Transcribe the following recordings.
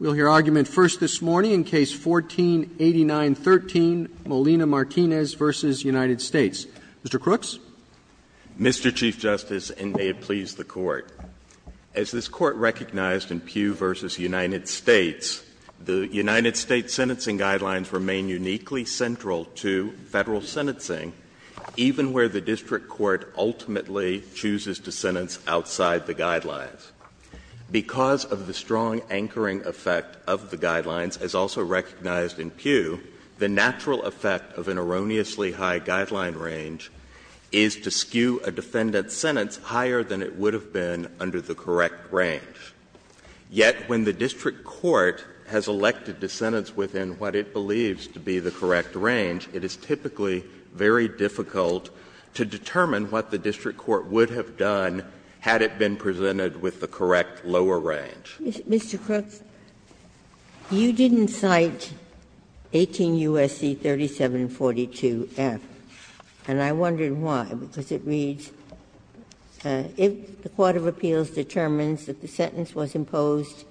We'll hear argument first this morning in Case 14-8913, Molina-Martinez v. United States. Mr. Crooks. Mr. Chief Justice, and may it please the Court, as this Court recognized in Pugh v. United States, the United States sentencing guidelines remain uniquely central to Federal sentencing, even where the district court ultimately chooses to sentence outside the guidelines. Because of the strong anchoring effect of the guidelines, as also recognized in Pugh, the natural effect of an erroneously high guideline range is to skew a defendant's sentence higher than it would have been under the correct range. Yet when the district court has elected to sentence within what it believes to be the correct range, it is typically very difficult to determine what the district court would have done had it been presented with the correct lower range. Mr. Crooks, you didn't cite 18 U.S.C. 3742F, and I wondered why, because it reads, if the court of appeals determines that the sentence was imposed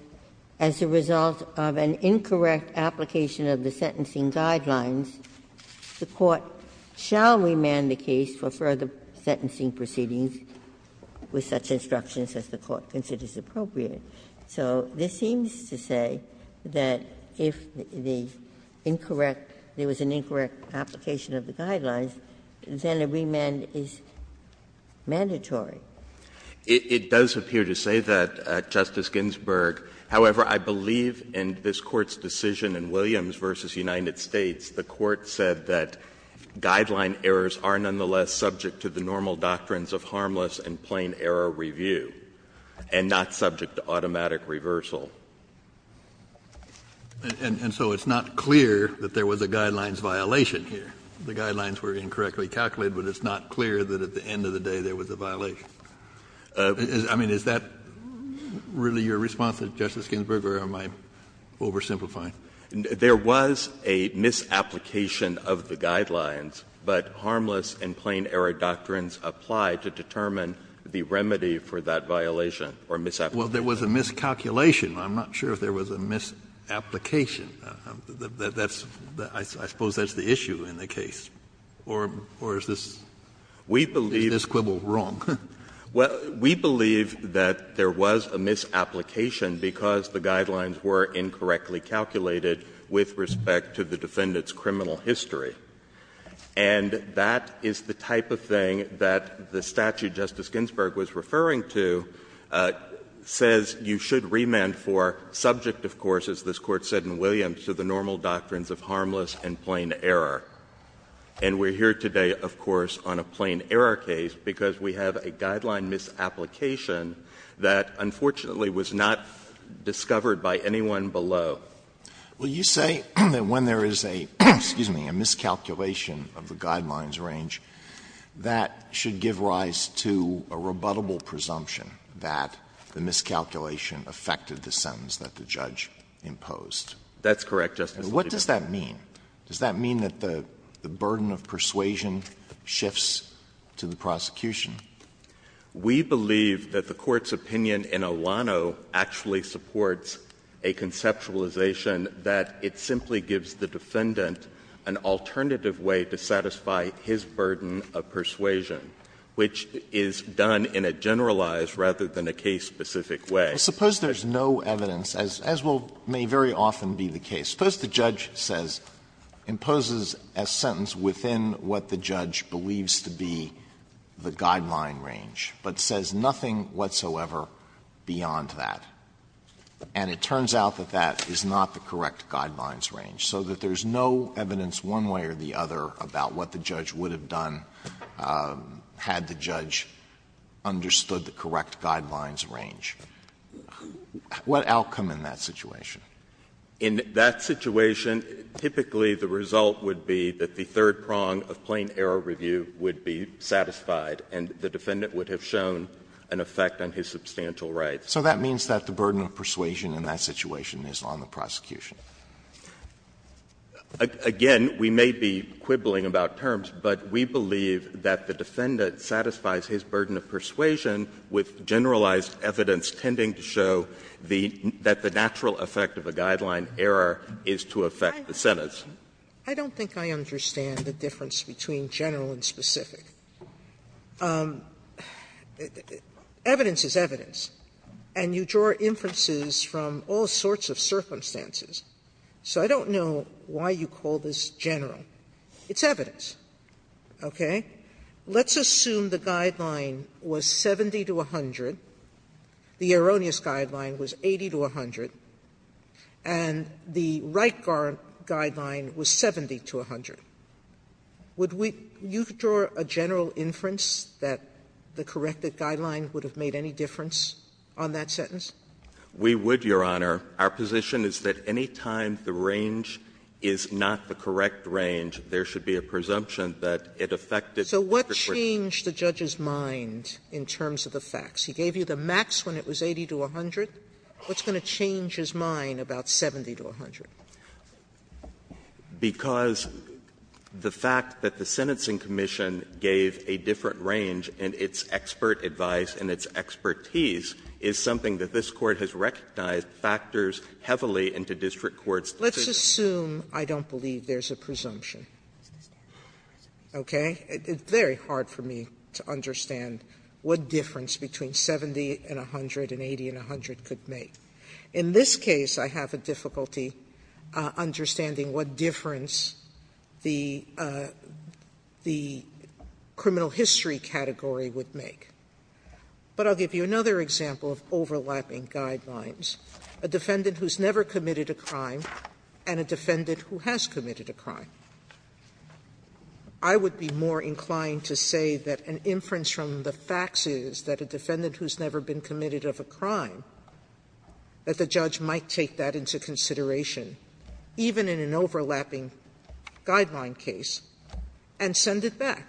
as a result of an incorrect application of the sentencing guidelines, the court shall remand the case for further sentencing proceedings with such instructions as the court considers appropriate. So this seems to say that if the incorrect – there was an incorrect application of the guidelines, then a remand is mandatory. It does appear to say that, Justice Ginsburg. However, I believe in this Court's decision in Williams v. United States, the Court said that guideline errors are nonetheless subject to the normal doctrines of harmless and plain error review and not subject to automatic reversal. And so it's not clear that there was a guidelines violation here. The guidelines were incorrectly calculated, but it's not clear that at the end of the day there was a violation. I mean, is that really your response, Justice Ginsburg, or am I oversimplifying? There was a misapplication of the guidelines, but harmless and plain error doctrines apply to determine the remedy for that violation or misapplication. Well, there was a miscalculation. I'm not sure if there was a misapplication. That's – I suppose that's the issue in the case. Or is this quibble wrong? We believe that there was a misapplication because the guidelines were incorrectly calculated with respect to the defendant's criminal history. And that is the type of thing that the statute Justice Ginsburg was referring to says you should remand for subject, of course, as this Court said in Williams, to the normal doctrines of harmless and plain error. And we're here today, of course, on a plain error case because we have a guideline misapplication that, unfortunately, was not discovered by anyone below. Well, you say that when there is a – excuse me – a miscalculation of the guidelines range, that should give rise to a rebuttable presumption that the miscalculation affected the sentence that the judge imposed. That's correct, Justice Alito. What does that mean? Does that mean that the burden of persuasion shifts to the prosecution? We believe that the Court's opinion in Alano actually supports a conceptualization that it simply gives the defendant an alternative way to satisfy his burden of persuasion, which is done in a generalized rather than a case-specific way. Suppose there's no evidence, as may very often be the case. Suppose the judge says, imposes a sentence within what the judge believes to be the guideline range, but says nothing whatsoever beyond that, and it turns out that that is not the correct guidelines range, so that there's no evidence one way or the other about what the judge would have done had the judge understood the correct guidelines range. What outcome in that situation? In that situation, typically the result would be that the third prong of plain error review would be satisfied, and the defendant would have shown an effect on his substantial rights. So that means that the burden of persuasion in that situation is on the prosecution. Again, we may be quibbling about terms, but we believe that the defendant satisfies his burden of persuasion with generalized evidence tending to show that the natural effect of a guideline error is to affect the sentence. Sotomayor, I don't think I understand the difference between general and specific. Evidence is evidence, and you draw inferences from all sorts of circumstances, so I don't know why you call this general. It's evidence. Okay? Let's assume the guideline was 70 to 100, the erroneous guideline was 80 to 100, and the right guideline was 70 to 100. Would we you draw a general inference that the corrected guideline would have made any difference on that sentence? We would, Your Honor. Our position is that any time the range is not the correct range, there should be a presumption that it affected the prescription. So what changed the judge's mind in terms of the facts? He gave you the max when it was 80 to 100. What's going to change his mind about 70 to 100? Because the fact that the sentencing commission gave a different range in its expert advice and its expertise is something that this Court has recognized factors heavily into district courts. Let's assume I don't believe there's a presumption, okay? It's very hard for me to understand what difference between 70 and 100 and 80 and 100 could make. In this case, I have a difficulty understanding what difference the criminal history category would make. But I'll give you another example of overlapping guidelines. A defendant who's never committed a crime and a defendant who has committed a crime. I would be more inclined to say that an inference from the facts is that a defendant who's never been committed of a crime, that the judge might take that into consideration, even in an overlapping guideline case, and send it back,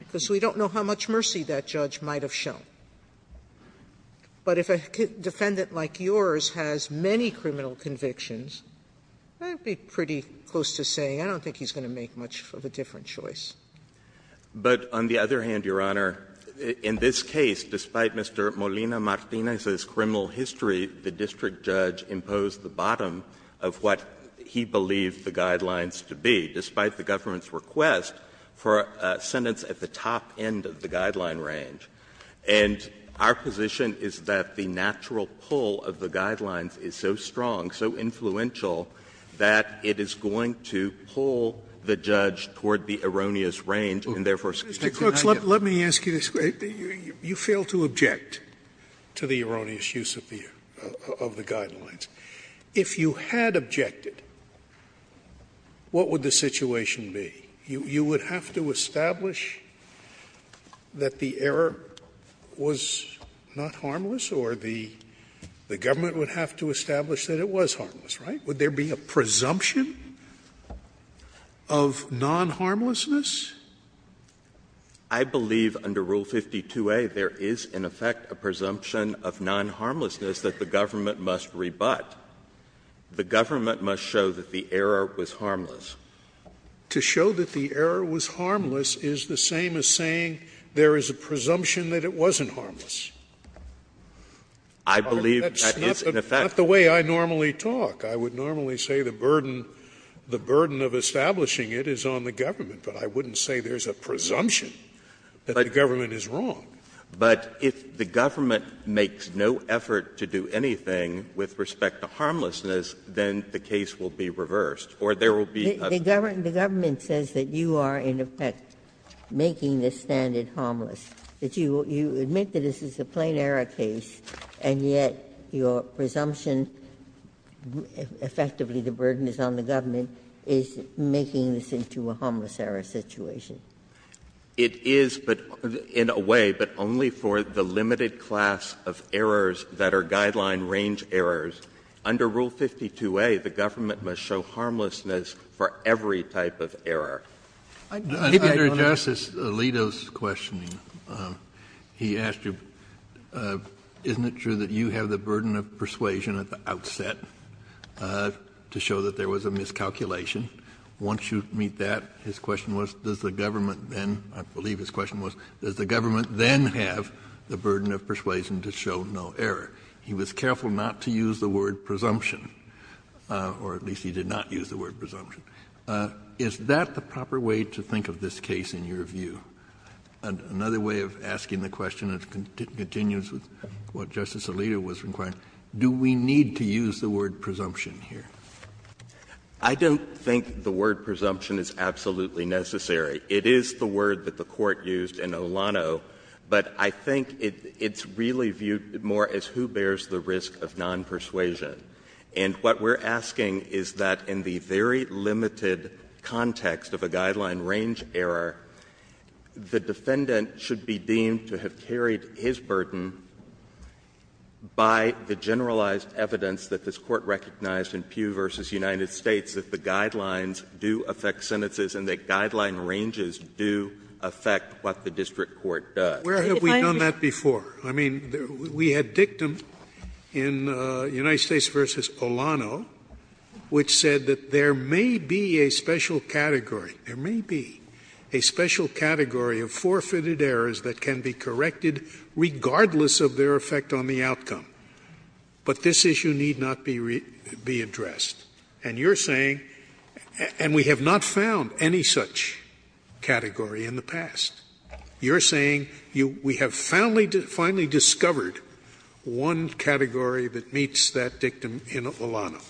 because we don't know how much mercy that judge might have shown. But if a defendant like yours has many criminal convictions, I'd be pretty close to saying I don't think he's going to make much of a different choice. But on the other hand, Your Honor, in this case, despite Mr. Molina-Martinez's criminal history, the district judge imposed the bottom of what he believed the guidelines to be, despite the government's request for a sentence at the top end of the guideline range. And our position is that the natural pull of the guidelines is so strong, so influential, that it is going to pull the judge toward the erroneous range, and therefore Scalia. Scalia, let me ask you this. You fail to object to the erroneous use of the guidelines. If you had objected, what would the situation be? You would have to establish that the error was not harmless, or the government would have to establish that it was harmless, right? Would there be a presumption of non-harmlessness? I believe under Rule 52a there is, in effect, a presumption of non-harmlessness that the government must rebut. The government must show that the error was harmless. To show that the error was harmless is the same as saying there is a presumption that it wasn't harmless. I believe that is, in effect. That's not the way I normally talk. I would normally say the burden of establishing it is on the government, but I wouldn't say there is a presumption that the government is wrong. But if the government makes no effort to do anything with respect to harmlessness, then the case will be reversed, or there will be a. The government says that you are, in effect, making the standard harmless, that you admit that this is a plain error case, and yet your presumption, effectively the burden is on the government, is making this into a harmless error situation. It is, but in a way, but only for the limited class of errors that are guideline range errors. Under Rule 52a, the government must show harmlessness for every type of error. Kennedy, I don't understand. Kennedy, under Justice Alito's questioning, he asked you, isn't it true that you have the burden of persuasion at the outset to show that there was a miscalculation? Once you meet that, his question was, does the government then, I believe his question was, does the government then have the burden of persuasion to show no error? He was careful not to use the word presumption, or at least he did not use the word presumption. Is that the proper way to think of this case in your view? Another way of asking the question that continues with what Justice Alito was inquiring, do we need to use the word presumption here? I don't think the word presumption is absolutely necessary. It is the word that the Court used in Olano, but I think it's really viewed more as who bears the risk of nonpersuasion. And what we're asking is that in the very limited context of a guideline range error, the defendant should be deemed to have carried his burden by the generalized evidence that this Court recognized in Pugh v. United States, that the guidelines do affect sentences and that guideline ranges do affect what the district court does. Sotomayor, where have we done that before? I mean, we had dictum in United States v. Olano which said that there may be a special category, there may be a special category of forfeited errors that can be corrected regardless of their effect on the outcome, but this issue need not be addressed. And you're saying, and we have not found any such category in the past. You're saying we have finally discovered one category that meets that dictum in Olano.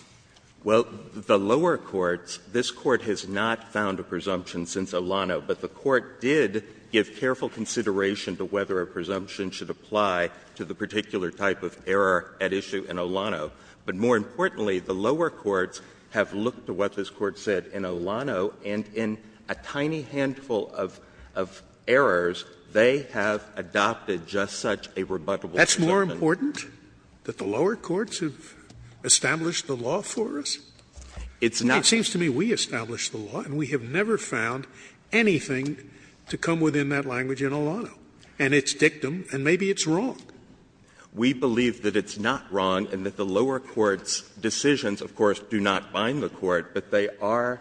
Well, the lower courts, this Court has not found a presumption since Olano, but the Court did give careful consideration to whether a presumption should apply to the particular type of error at issue in Olano. But more importantly, the lower courts have looked to what this Court said in Olano and in a tiny handful of errors, they have adopted just such a rebuttable presumption. That's more important, that the lower courts have established the law for us? It's not. It seems to me we established the law and we have never found anything to come within that language in Olano, and it's dictum and maybe it's wrong. We believe that it's not wrong and that the lower courts' decisions, of course, do not bind the Court, but they are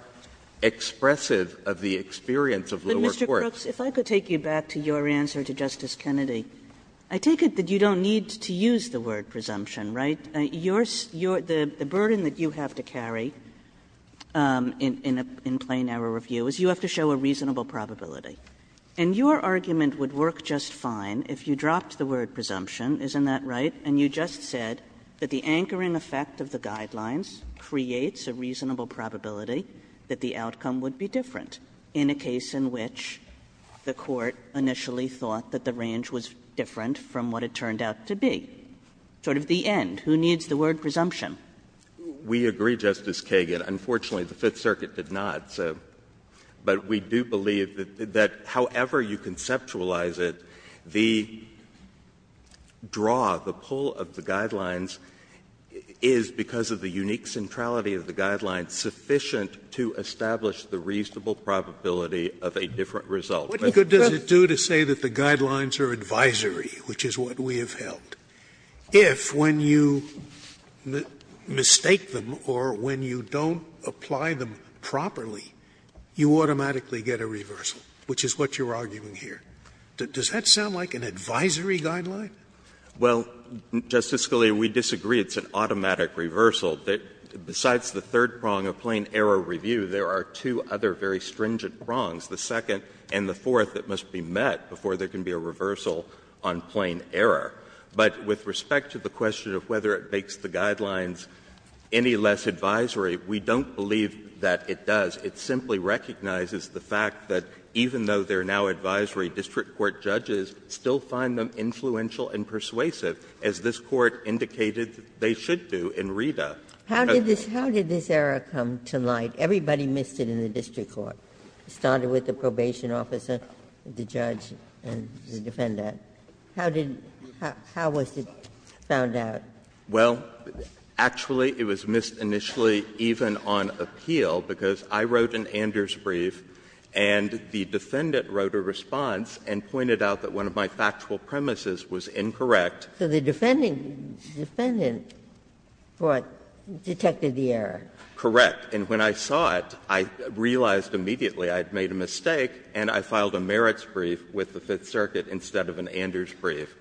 expressive of the experience of lower courts. Kagan. Kagan. But, Mr. Crooks, if I could take you back to your answer to Justice Kennedy. I take it that you don't need to use the word presumption, right? Your — the burden that you have to carry in a plain error review is you have to show a reasonable probability, and your argument would work just fine if you dropped the word presumption, isn't that right? And you just said that the anchoring effect of the guidelines creates a reasonable probability that the outcome would be different in a case in which the Court initially thought that the range was different from what it turned out to be. Sort of the end. Who needs the word presumption? We agree, Justice Kagan. Unfortunately, the Fifth Circuit did not. But we do believe that however you conceptualize it, the draw, the pull of the guidelines is, because of the unique centrality of the guidelines, sufficient to establish the reasonable probability of a different result. Scalia. What good does it do to say that the guidelines are advisory, which is what we have found, if when you mistake them or when you don't apply them properly, you automatically get a reversal, which is what you are arguing here? Does that sound like an advisory guideline? Well, Justice Scalia, we disagree. It's an automatic reversal. Besides the third prong of plain error review, there are two other very stringent prongs, the second and the fourth, that must be met before there can be a reversal on plain error. But with respect to the question of whether it makes the guidelines any less advisory, we don't believe that it does. It simply recognizes the fact that even though they are now advisory, district court judges still find them influential and persuasive, as this Court indicated they should do in Rita. How did this error come to light? Everybody missed it in the district court. It started with the probation officer, the judge, and the defendant. How did you do that? How was it found out? Well, actually, it was missed initially even on appeal, because I wrote an Anders brief, and the defendant wrote a response and pointed out that one of my factual premises was incorrect. So the defendant thought, detected the error. Correct. And when I saw it, I realized immediately I had made a mistake, and I filed a merits brief with the Fifth Circuit instead of an Anders brief,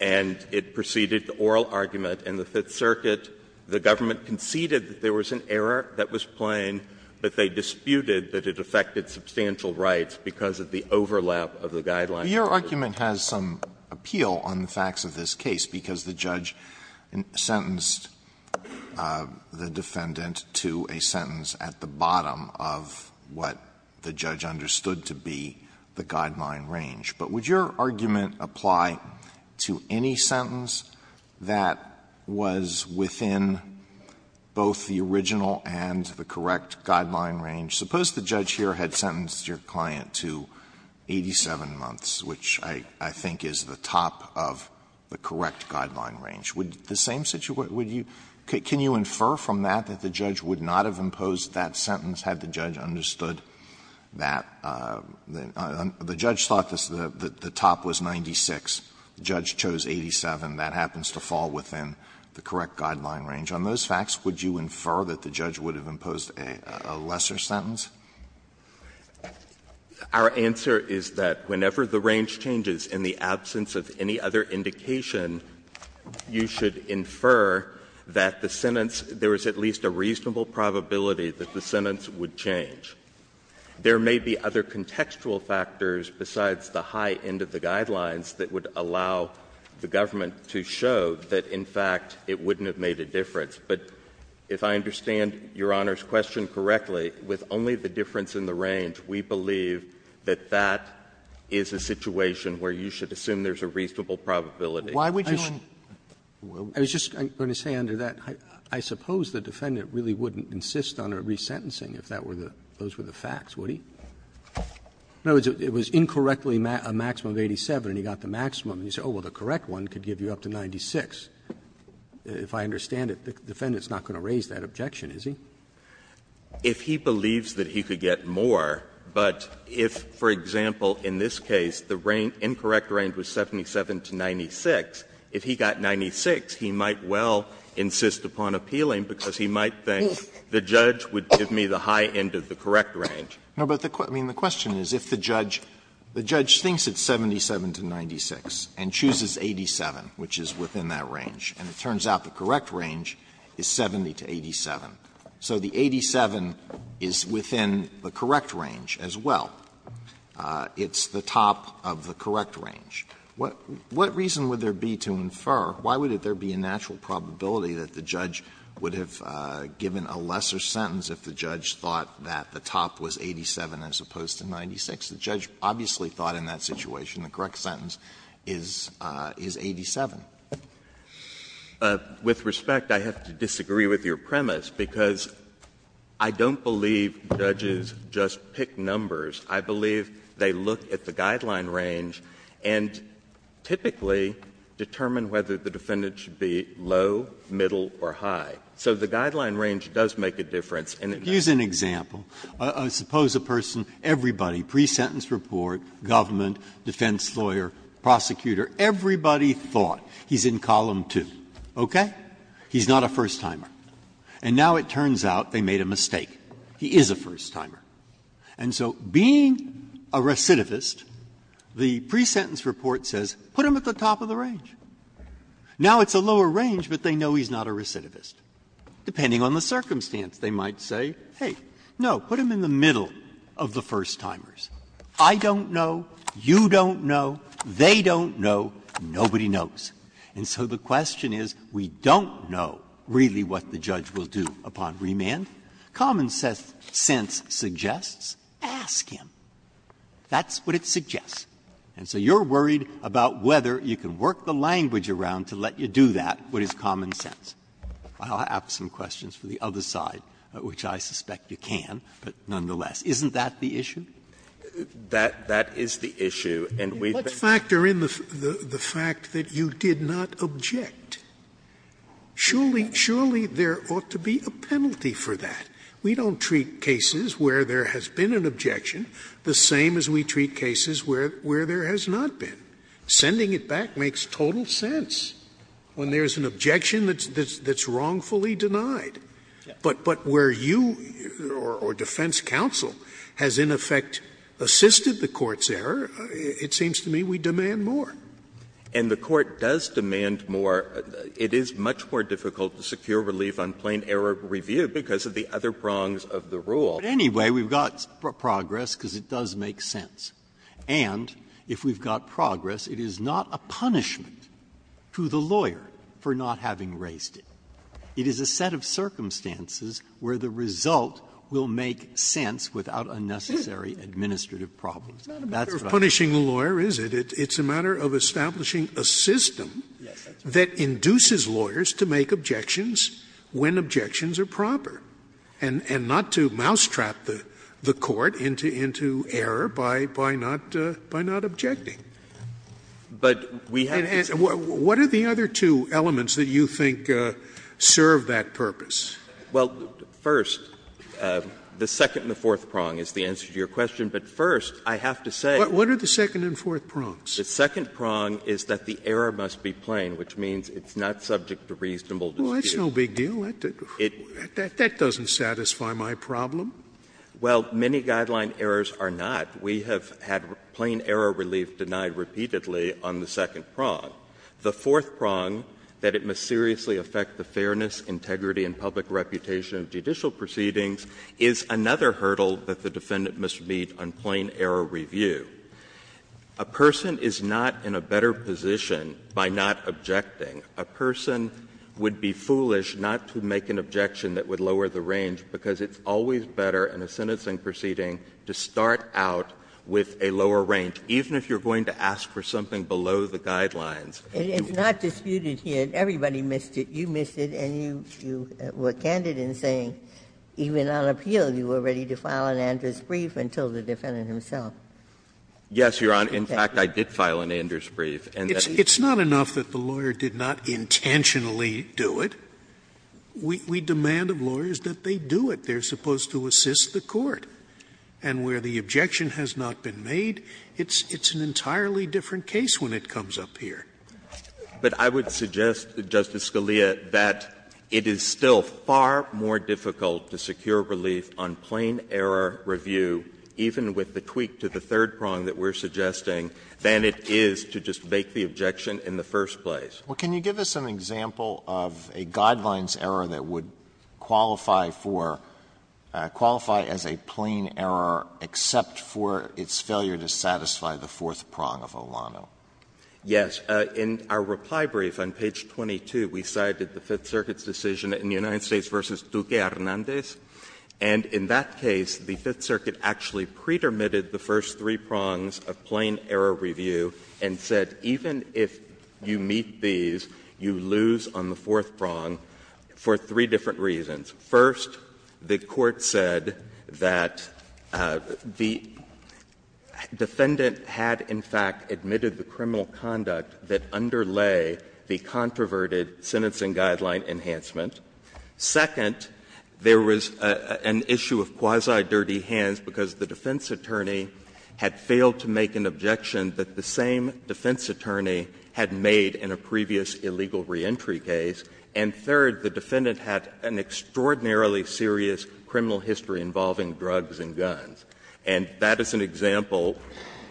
and it preceded the oral argument in the Fifth Circuit. The government conceded that there was an error that was plain, but they disputed that it affected substantial rights because of the overlap of the guidelines. Alito, your argument has some appeal on the facts of this case, because the judge sentenced the defendant to a sentence at the bottom of what the judge understood to be the guideline range. But would your argument apply to any sentence that was within both the original and the correct guideline range? Suppose the judge here had sentenced your client to 87 months, which I think is the top of the correct guideline range. Would the same situation you can you infer from that that the judge would not have the, the judge thought that the top was 96, the judge chose 87, that happens to fall within the correct guideline range. On those facts, would you infer that the judge would have imposed a lesser sentence? Our answer is that whenever the range changes in the absence of any other indication, you should infer that the sentence, there is at least a reasonable probability that the sentence would change. There may be other contextual factors besides the high end of the guidelines that would allow the government to show that, in fact, it wouldn't have made a difference. But if I understand Your Honor's question correctly, with only the difference in the range, we believe that that is a situation where you should assume there's a reasonable probability. Roberts. Roberts. I was just going to say, under that, I suppose the defendant really wouldn't insist on a resentencing if that were the, those were the facts, would he? In other words, it was incorrectly a maximum of 87, and he got the maximum. And you say, oh, well, the correct one could give you up to 96. If I understand it, the defendant's not going to raise that objection, is he? If he believes that he could get more, but if, for example, in this case, the incorrect range was 77 to 96, if he got 96, he might well insist upon appealing, because he might think the judge would give me the high end of the correct range. Alito, I mean, the question is if the judge, the judge thinks it's 77 to 96 and chooses 87, which is within that range, and it turns out the correct range is 70 to 87. So the 87 is within the correct range as well. It's the top of the correct range. What reason would there be to infer, why would there be a natural probability that the judge would have given a lesser sentence if the judge thought that the top was 87 as opposed to 96? The judge obviously thought in that situation the correct sentence is 87. With respect, I have to disagree with your premise, because I don't believe judges just pick numbers. I believe they look at the guideline range and typically determine whether the defendant should be low, middle, or high. So the guideline range does make a difference, and it does. Breyer. Here's an example. Suppose a person, everybody, pre-sentence report, government, defense lawyer, prosecutor, everybody thought he's in column 2, okay? He's not a first-timer. And now it turns out they made a mistake. He is a first-timer. And so being a recidivist, the pre-sentence report says put him at the top of the range. Now it's a lower range, but they know he's not a recidivist. Depending on the circumstance, they might say, hey, no, put him in the middle of the first-timers. I don't know, you don't know, they don't know, nobody knows. And so the question is, we don't know really what the judge will do upon remand. Common sense suggests, ask him. That's what it suggests. And so you're worried about whether you can work the language around to let you do that, what is common sense. I'll ask some questions for the other side, which I suspect you can, but nonetheless. Isn't that the issue? That is the issue, and we've been. Scalia Let's factor in the fact that you did not object. Surely, surely there ought to be a penalty for that. We don't treat cases where there has been an objection the same as we treat cases where there has not been. Sending it back makes total sense when there's an objection that's wrongfully denied. But where you or defense counsel has in effect assisted the Court's error, it seems to me we demand more. And the Court does demand more. It is much more difficult to secure relief on plain error review because of the other prongs of the rule. But anyway, we've got progress because it does make sense. And if we've got progress, it is not a punishment to the lawyer for not having raised it. It is a set of circumstances where the result will make sense without unnecessary That's what I'm saying. Scalia It's not a matter of punishing the lawyer, is it? It's a matter of establishing a system that induces lawyers to make objections when objections are proper. And not to mousetrap the Court into error by not objecting. What are the other two elements that you think serve that purpose? First, the second and the fourth prong is the answer to your question. But first, I have to say What are the second and fourth prongs? The second prong is that the error must be plain, which means it's not subject to reasonable dispute. Scalia Well, that's no big deal. That doesn't satisfy my problem. Well, many guideline errors are not. We have had plain error relief denied repeatedly on the second prong. The fourth prong, that it must seriously affect the fairness, integrity, and public reputation of judicial proceedings, is another hurdle that the defendant must meet on plain error review. A person is not in a better position by not objecting. A person would be foolish not to make an objection that would lower the range, because it's always better in a sentencing proceeding to start out with a lower range, even if you're going to ask for something below the guidelines. Ginsburg It's not disputed here. Everybody missed it. You missed it, and you were candid in saying even on appeal you were ready to file an Anders brief until the defendant himself. Yes, Your Honor. In fact, I did file an Anders brief. Scalia It's not enough that the lawyer did not intentionally do it. We demand of lawyers that they do it. They're supposed to assist the court. And where the objection has not been made, it's an entirely different case when it comes up here. But I would suggest, Justice Scalia, that it is still far more difficult to secure relief on plain error review, even with the tweak to the third prong that we're going to make the objection in the first place. Alito Well, can you give us an example of a Guidelines error that would qualify for — qualify as a plain error, except for its failure to satisfy the fourth prong of Olano? Scalia Yes. In our reply brief on page 22, we cited the Fifth Circuit's decision in the United States v. Duque Hernández, and in that case, the Fifth Circuit actually pre-dermitted the first three prongs of plain error review and said, even if you meet these, you lose on the fourth prong for three different reasons. First, the Court said that the defendant had, in fact, admitted the criminal conduct that underlay the controverted sentencing guideline enhancement. Second, there was an issue of quasi-dirty hands because the defense attorney had failed to make an objection that the same defense attorney had made in a previous illegal reentry case. And third, the defendant had an extraordinarily serious criminal history involving drugs and guns. And that is an example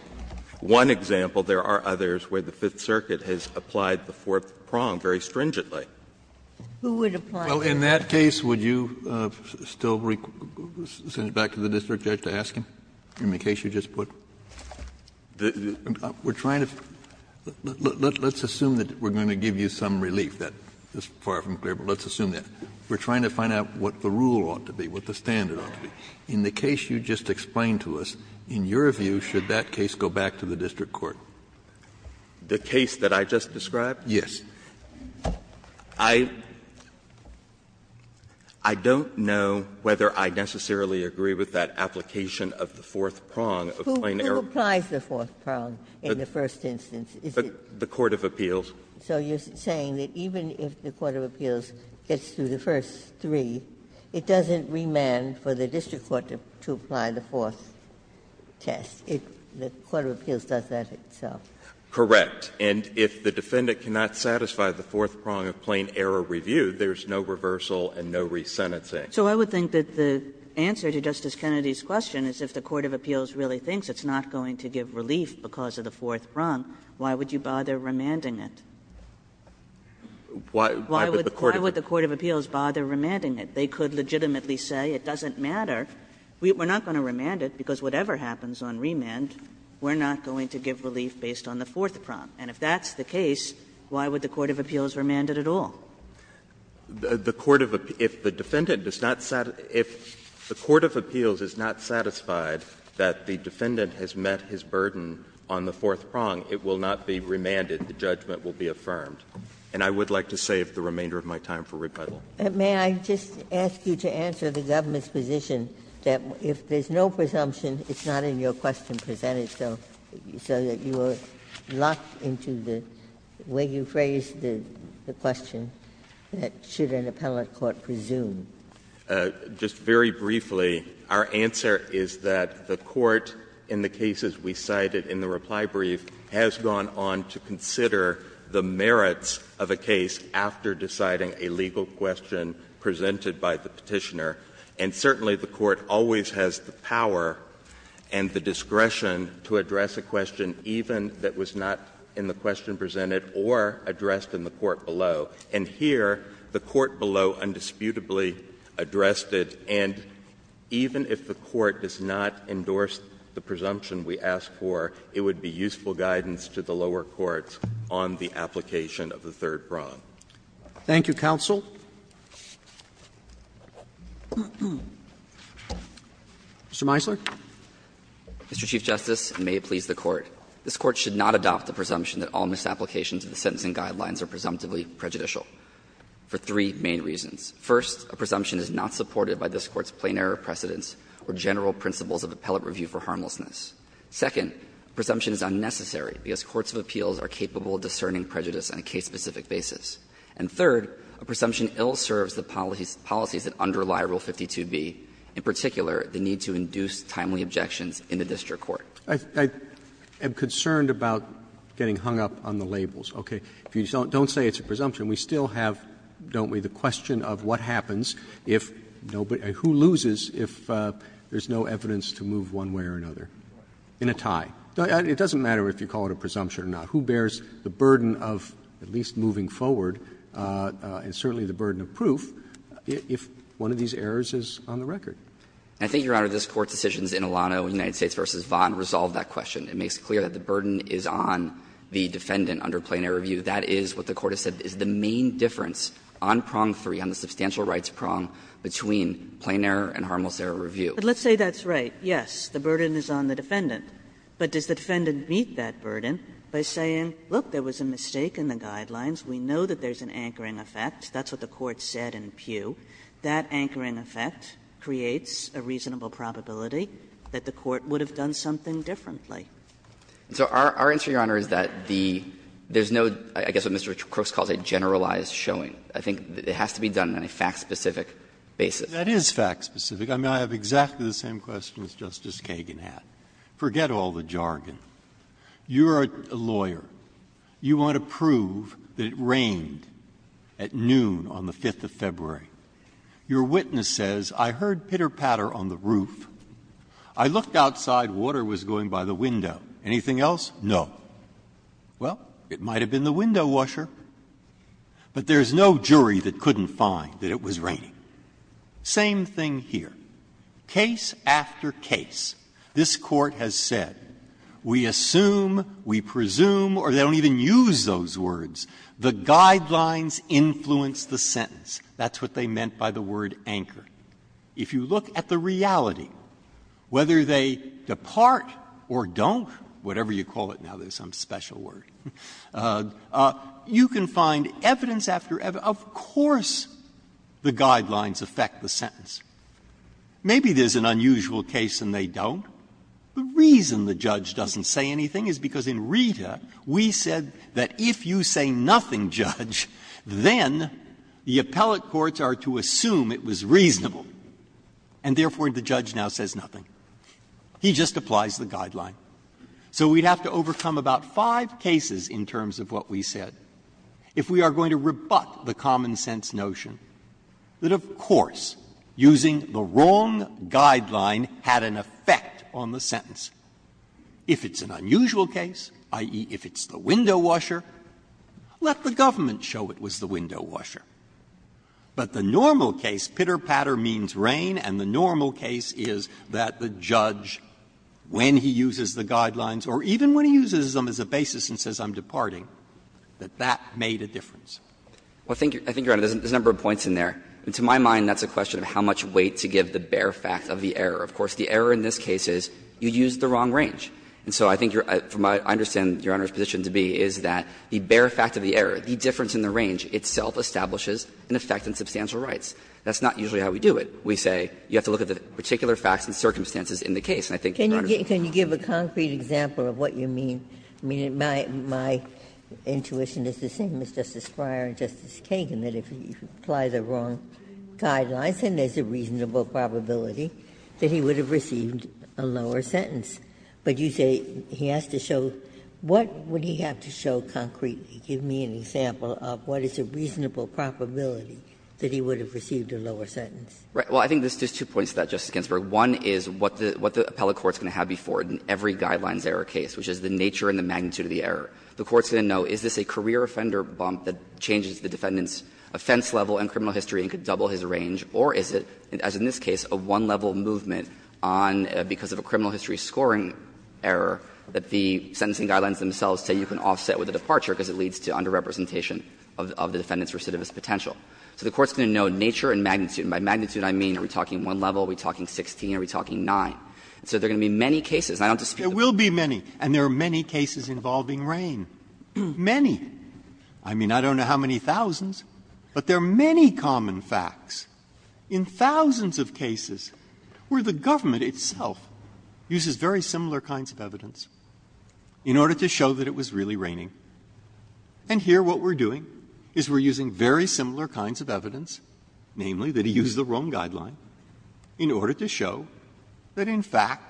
— one example. There are others where the Fifth Circuit has applied the fourth prong very stringently. Ginsburg Who would apply it? Kennedy Well, in that case, would you still send it back to the district judge to ask him, in the case you just put? We're trying to — let's assume that we're going to give you some relief. That is far from clear, but let's assume that. We're trying to find out what the rule ought to be, what the standard ought to be. In the case you just explained to us, in your view, should that case go back to the district court? Scalia The case that I just described? Kennedy Yes. I don't know whether I necessarily agree with that application of the fourth prong of plain error. Ginsburg Who applies the fourth prong in the first instance? Is it the Court of Appeals? So you're saying that even if the Court of Appeals gets through the first three, it doesn't remand for the district court to apply the fourth test if the Court of Appeals does that itself? Scalia Correct. And if the defendant cannot satisfy the fourth prong of plain error review, there's no reversal and no resentencing. Kagan So I would think that the answer to Justice Kennedy's question is if the Court of Appeals really thinks it's not going to give relief because of the fourth prong, why would you bother remanding it? Scalia Why would the Court of Appeals bother remanding it? They could legitimately say it doesn't matter. We're not going to remand it, because whatever happens on remand, we're not going to give relief based on the fourth prong. And if that's the case, why would the Court of Appeals remand it at all? Scalia The Court of Appeals, if the defendant does not satisfy the Court of Appeals is not satisfied that the defendant has met his burden on the fourth prong, it will not be remanded. The judgment will be affirmed. And I would like to save the remainder of my time for rebuttal. Ginsburg May I just ask you to answer the government's position that if there's no presumption, it's not in your question presented, so that you are locked into the way you phrased the question, that should an appellate court presume? Scalia Just very briefly, our answer is that the Court, in the cases we cited in the reply brief, has gone on to consider the merits of a case after deciding a legal question presented by the Petitioner. And certainly, the Court always has the power and the discretion to address a question even that was not in the question presented or addressed in the court below. And here, the court below undisputably addressed it, and even if the court does not endorse the presumption we asked for, it would be useful guidance to the lower courts on the application of the third prong. Roberts Thank you, counsel. Mr. Meisler. Meisler Mr. Chief Justice, and may it please the Court. This Court should not adopt the presumption that all misapplications of the sentencing guidelines are presumptively prejudicial for three main reasons. First, a presumption is not supported by this Court's plain error precedents or general principles of appellate review for harmlessness. Second, a presumption is unnecessary because courts of appeals are capable of discerning prejudice on a case-specific basis. And third, a presumption ill-serves the policies that underlie Rule 52b, in particular the need to induce timely objections in the district court. Roberts I am concerned about getting hung up on the labels, okay? If you don't say it's a presumption, we still have, don't we, the question of what happens if nobody – who loses if there's no evidence to move one way or another in a tie? It doesn't matter if you call it a presumption or not. Who bears the burden of at least moving forward, and certainly the burden of proof, if one of these errors is on the record? I think, Your Honor, this Court's decisions in Alano, United States v. Vaughan, resolve that question. It makes clear that the burden is on the defendant under plain error review. That is what the Court has said is the main difference on prong three, on the substantial rights prong, between plain error and harmless error review. Kagan But let's say that's right. Yes, the burden is on the defendant. But does the defendant meet that burden by saying, look, there was a mistake in the guidelines, we know that there's an anchoring effect, that's what the Court said in Peugh, that anchoring effect creates a reasonable probability that the Court would have done something differently. So our answer, Your Honor, is that the – there's no, I guess what Mr. Crooks calls a generalized showing. I think it has to be done on a fact-specific basis. Breyer That is fact-specific. I mean, I have exactly the same question as Justice Kagan had. Forget all the jargon. You're a lawyer. You want to prove that it rained at noon on the 5th of February. Your witness says, I heard pitter-patter on the roof. I looked outside, water was going by the window. Anything else? No. Well, it might have been the window washer. But there's no jury that couldn't find that it was raining. Same thing here. Case after case, this Court has said, we assume, we presume, or they don't even use those words, the guidelines influence the sentence. That's what they meant by the word anchor. If you look at the reality, whether they depart or don't, whatever you call it now, there's some special word, you can find evidence after evidence. Of course the guidelines affect the sentence. Maybe there's an unusual case and they don't. The reason the judge doesn't say anything is because in Rita we said that if you say nothing, Judge, then the appellate courts are to assume it was reasonable, and therefore the judge now says nothing. He just applies the guideline. So we'd have to overcome about five cases in terms of what we said if we are going to rebut the common-sense notion that, of course, using the wrong guideline had an effect on the sentence. If it's an unusual case, i.e., if it's the window washer, let the government show it was the window washer. But the normal case, pitter-patter means rain, and the normal case is that the judge, when he uses the guidelines or even when he uses them as a basis and says I'm departing, that that made a difference. Well, I think, Your Honor, there's a number of points in there. To my mind, that's a question of how much weight to give the bare fact of the error. Of course, the error in this case is you used the wrong range. And so I think your – from what I understand Your Honor's position to be is that the bare fact of the error, the difference in the range itself establishes an effect on substantial rights. That's not usually how we do it. We say you have to look at the particular facts and circumstances in the case, and I think Your Honor's position is that. Ginsburg-Miller Can you give a concrete example of what you mean? I mean, my intuition is the same as Justice Breyer and Justice Kagan, that if you apply the wrong guidelines, then there's a reasonable probability that he would have received a lower sentence. But you say he has to show – what would he have to show concretely? Give me an example of what is a reasonable probability that he would have received a lower sentence. Well, I think there's two points to that, Justice Ginsburg. One is what the appellate court's going to have before it in every guidelines error case, which is the nature and the magnitude of the error. The court's going to know, is this a career offender bump that changes the defendant's offense level and criminal history and could double his range, or is it, as in this case, a one-level movement on – because of a criminal history scoring error that the sentencing guidelines themselves say you can offset with a departure because it leads to underrepresentation of the defendant's recidivist potential. So the court's going to know nature and magnitude. And by magnitude, I mean, are we talking one level, are we talking 16, are we talking 9? So there are going to be many cases, and I don't dispute that. Breyer. There will be many, and there are many cases involving RAIN. Many. I mean, I don't know how many thousands, but there are many common facts in thousands of cases where the government itself uses very similar kinds of evidence in order to show that it was really RAINing. And here what we're doing is we're using very similar kinds of evidence, namely that he used the Rome guideline, in order to show that, in fact,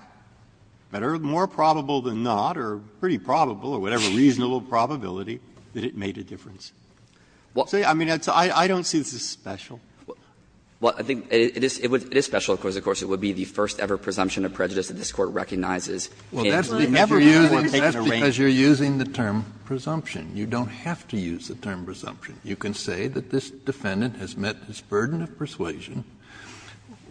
better, more probable than not or pretty probable or whatever reasonable probability that it made a difference. So, I mean, I don't see this as special. Well, I think it is special because, of course, it would be the first-ever presumption of prejudice that this Court recognizes. Kennedy, you were taking a RAIN. Kennedy, that's because you're using the term presumption. You don't have to use the term presumption. You can say that this defendant has met his burden of persuasion.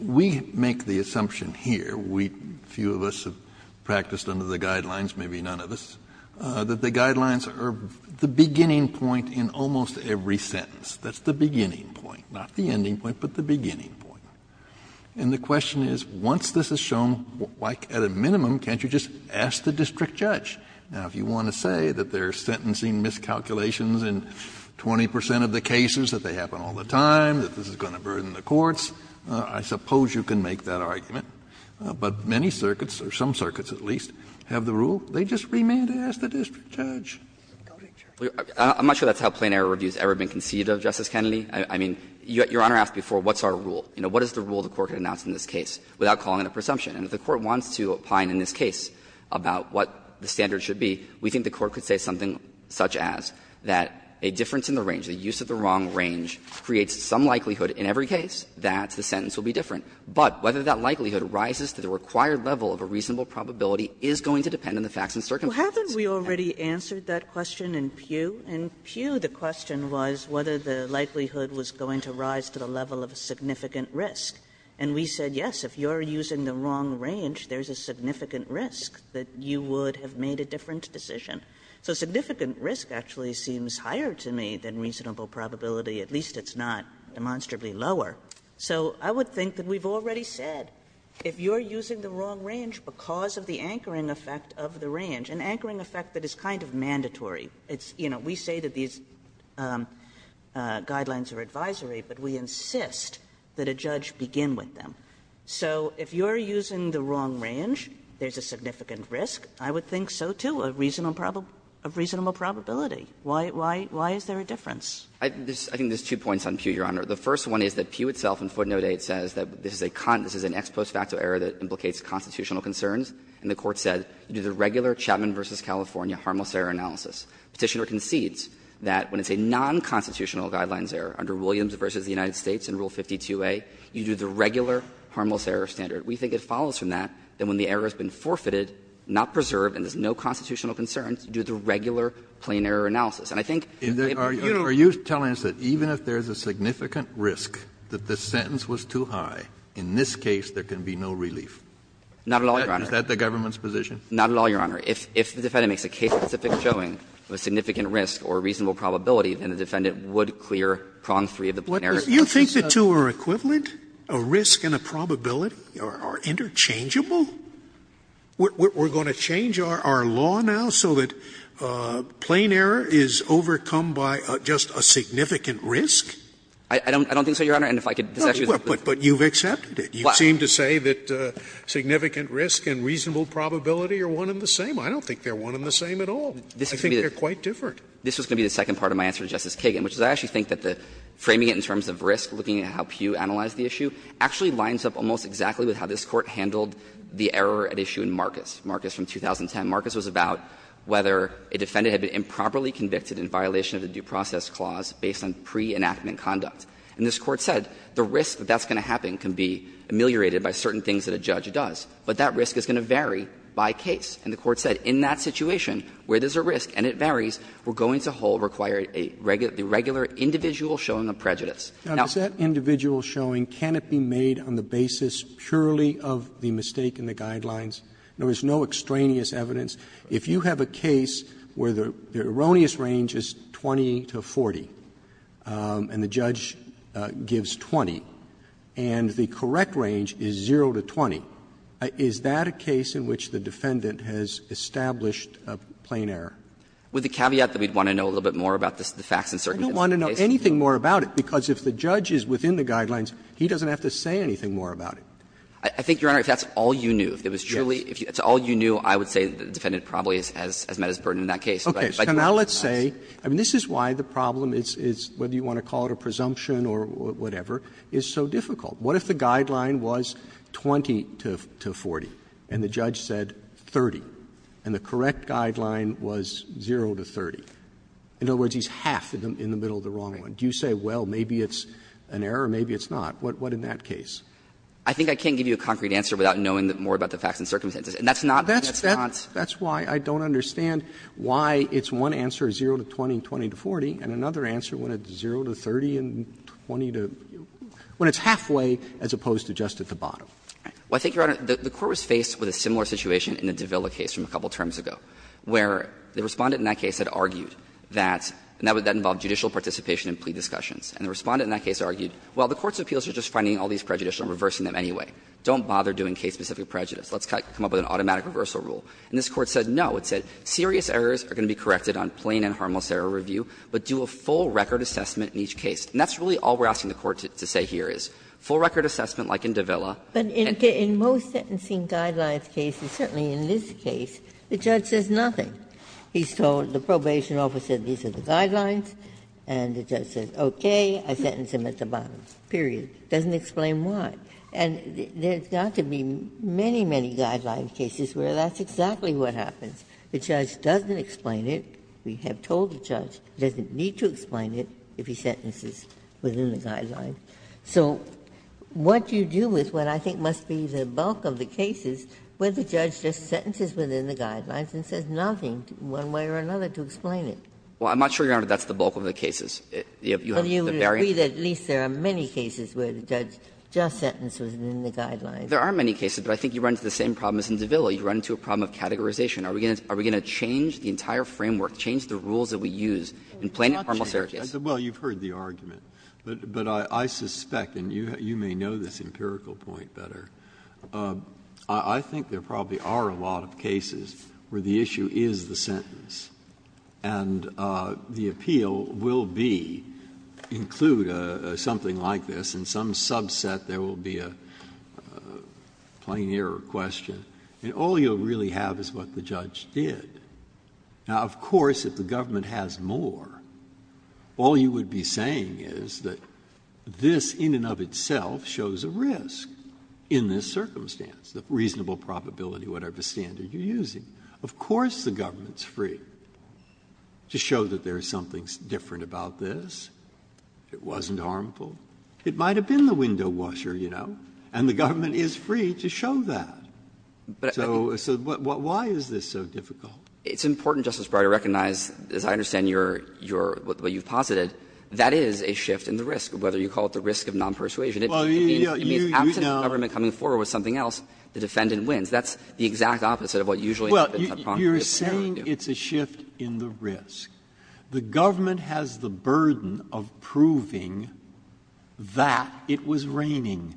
We make the assumption here, we, few of us have practiced under the guidelines, maybe none of us, that the guidelines are the beginning point in almost every sentence. That's the beginning point, not the ending point, but the beginning point. And the question is, once this is shown, why, at a minimum, can't you just ask the district judge? Now, if you want to say that they're sentencing miscalculations in 20 percent of the cases, that they happen all the time, that this is going to burden the courts, I suppose you can make that argument. But many circuits, or some circuits at least, have the rule. They just remand to ask the district judge. I'm not sure that's how plain error review has ever been conceived of, Justice Kennedy. I mean, Your Honor asked before, what's our rule? You know, what is the rule the Court can announce in this case without calling it a presumption? And if the Court wants to opine in this case about what the standards should be, we think the Court could say something such as that a difference in the range, the use of the wrong range, creates some likelihood in every case that the sentence will be different. But whether that likelihood rises to the required level of a reasonable probability is going to depend on the facts and circumstances. Kagan. Kagan. Kagan. Kagan. Kagan. Kagan. Kagan. Kagan. Kagan. Kagan. Kagan. Kagan. Kagan. Kagan. So if you're using the wrong range, there's a significant risk that you would have made a different decision. So significant risk actually seems higher to me than reasonable probability. At least it's not demonstrably lower. So I would think that we've already said, if you're using the wrong range because of the anchoring effect of the range, an anchoring effect that is kind of mandatory, it's, you know, we say that these guidelines are advisory, but we insist that a judge begin with them. So if you're using the wrong range, there's a significant risk. I would think so, too, of reasonable probability. Why is there a difference? I think there's two points on Pew, Your Honor. The first one is that Pew itself in footnote 8 says that this is a ex post facto error that implicates constitutional concerns. And the Court said, you do the regular Chapman v. California harmless error analysis. Petitioner concedes that when it's a nonconstitutional guidelines error under Williams v. the United States in Rule 52a, you do the regular harmless error standard. We think it follows from that that when the error has been forfeited, not preserved and there's no constitutional concerns, you do the regular plain error analysis. And I think it would be unilateral. Kennedy, are you telling us that even if there's a significant risk that the sentence was too high, in this case there can be no relief? Not at all, Your Honor. Is that the government's position? Not at all, Your Honor. If the defendant makes a case-specific showing of a significant risk or reasonable probability, then the defendant would clear prong 3 of the plain error. Do you think the two are equivalent, a risk and a probability, or interchangeable? We're going to change our law now so that plain error is overcome by just a significant risk? I don't think so, Your Honor, and if I could just ask you the question. But you've accepted it. You seem to say that significant risk and reasonable probability are one and the same. I don't think they're one and the same at all. I think they're quite different. This was going to be the second part of my answer to Justice Kagan, which is I actually think that the framing it in terms of risk, looking at how Pew analyzed the issue, actually lines up almost exactly with how this Court handled the error at issue in Marcus. Marcus from 2010. Marcus was about whether a defendant had been improperly convicted in violation of the due process clause based on pre-enactment conduct. And this Court said the risk that that's going to happen can be ameliorated by certain things that a judge does, but that risk is going to vary by case. And the Court said in that situation where there's a risk and it varies, we're going to hold required a regular individual showing of prejudice. Now, does that individual showing, can it be made on the basis purely of the mistake in the guidelines? There was no extraneous evidence. If you have a case where the erroneous range is 20 to 40 and the judge gives 20 and the correct range is 0 to 20, is that a case in which the defendant has established a plain error? With the caveat that we'd want to know a little bit more about the facts and circumstances of the case? I don't want to know anything more about it, because if the judge is within the guidelines, he doesn't have to say anything more about it. I think, Your Honor, if that's all you knew, if it was truly, if it's all you knew, I would say the defendant probably has met his burden in that case. Okay. So now let's say, I mean, this is why the problem is whether you want to call it a presumption or whatever, is so difficult. What if the guideline was 20 to 40 and the judge said 30, and the correct guideline was 0 to 30? In other words, he's half in the middle of the wrong one. Do you say, well, maybe it's an error, maybe it's not? What in that case? I think I can't give you a concrete answer without knowing more about the facts and circumstances. And that's not what's not. That's why I don't understand why it's one answer, 0 to 20 and 20 to 40, and another answer when it's 0 to 30 and 20 to 40, when it's halfway as opposed to just at the bottom. Well, I think, Your Honor, the Court was faced with a similar situation in the Davila case from a couple of terms ago, where the Respondent in that case had argued that, and that would then involve judicial participation in plea discussions. And the Respondent in that case argued, well, the court's appeals are just finding all these prejudices and reversing them anyway. Don't bother doing case-specific prejudice. Let's come up with an automatic reversal rule. And this Court said no. It said serious errors are going to be corrected on plain and harmless error review, but do a full record assessment in each case. And that's really all we're asking the Court to say here is, full record assessment like in Davila. Ginsburg. But in most sentencing guidelines cases, certainly in this case, the judge says nothing. He's told the probation officer these are the guidelines, and the judge says, okay, I sentence him at the bottom, period. Doesn't explain why. And there's got to be many, many guideline cases where that's exactly what happens. The judge doesn't explain it. We have told the judge he doesn't need to explain it if he sentences within the guidelines. So what you do is what I think must be the bulk of the cases where the judge just sentences within the guidelines and says nothing one way or another to explain it. Well, I'm not sure, Your Honor, that's the bulk of the cases. You have the variant. But you would agree that at least there are many cases where the judge just sentences within the guidelines. There are many cases, but I think you run into the same problem as in Davila. You run into a problem of categorization. Are we going to change the entire framework, change the rules that we use in plain and formal searches? Breyer, Well, you've heard the argument, but I suspect, and you may know this empirical point better. I think there probably are a lot of cases where the issue is the sentence, and the appeal will be, include something like this, in some subset there will be a plain error question. And all you'll really have is what the judge did. Now, of course, if the government has more, all you would be saying is that this in and of itself shows a risk in this circumstance, the reasonable probability, whatever standard you're using. Of course the government's free to show that there's something different about this, it wasn't harmful. It might have been the window washer, you know, and the government is free to show that. So why is this so difficult? It's important, Justice Breyer, to recognize, as I understand what you've posited, that is a shift in the risk, whether you call it the risk of non-persuasion. It means after the government coming forward with something else, the defendant wins. That's the exact opposite of what usually happens in a problem of categorization. Breyer, Well, you're saying it's a shift in the risk. The government has the burden of proving that it was raining.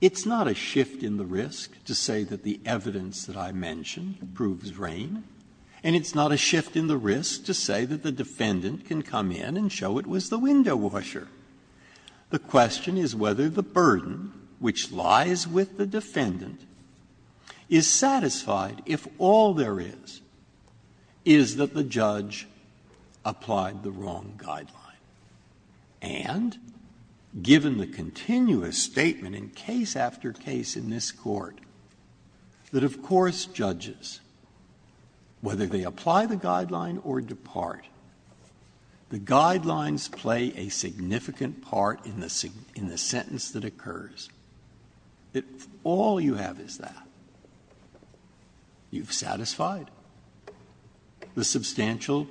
It's not a shift in the risk to say that the evidence that I mentioned proves rain, and it's not a shift in the risk to say that the defendant can come in and show it was the window washer. The question is whether the burden which lies with the defendant is satisfied if all there is, is that the judge applied the wrong guideline. And given the continuous statement in case after case in this Court that, of course, judges, whether they apply the guideline or depart, the guidelines play a significant part in the sentence that occurs, if all you have is that, you've satisfied the substantial,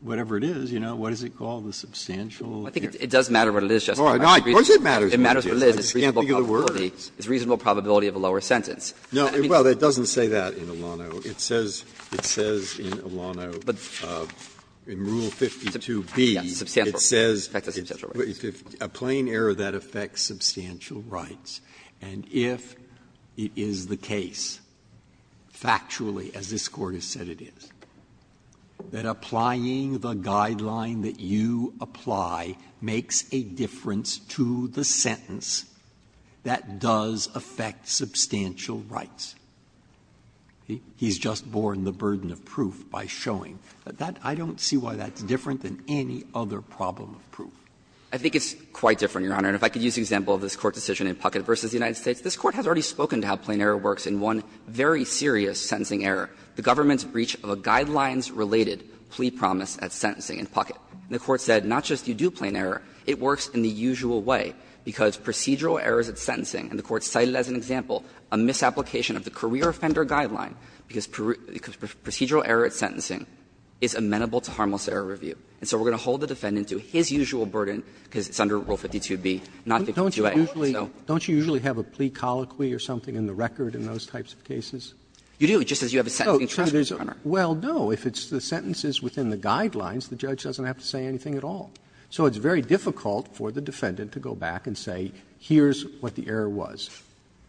whatever it is, you know, what is it called, the substantial effect? I think it does matter what it is, Justice Breyer. Of course it matters. It matters what it is. I just can't think of the words. It's reasonable probability of a lower sentence. No. Well, it doesn't say that in Alano. It says in Alano, in Rule 52b, it says a plain error that affects substantial rights, and if it is the case, factually, as this Court has said it is, that applying the guideline that you apply makes a difference to the sentence that does affect substantial rights. He's just borne the burden of proof by showing. I don't see why that's different than any other problem of proof. I think it's quite different, Your Honor, and if I could use the example of this Court decision in Puckett v. United States, this Court has already spoken to how plain error works in one very serious sentencing error, the government's breach of a guidelines-related plea promise at sentencing in Puckett. And the Court said not just you do plain error, it works in the usual way, because procedural errors at sentencing, and the Court cited as an example a misapplication of the career offender guideline, because procedural error at sentencing is amenable to harmless error review. And so we're going to hold the defendant to his usual burden, because it's under Rule 52b, not 52a. So don't you usually have a plea colloquy or something in the record in those types of cases? You do, just as you have a sentencing charge, Your Honor. Well, no, if it's the sentences within the guidelines, the judge doesn't have to say anything at all. So it's very difficult for the defendant to go back and say, here's what the error was,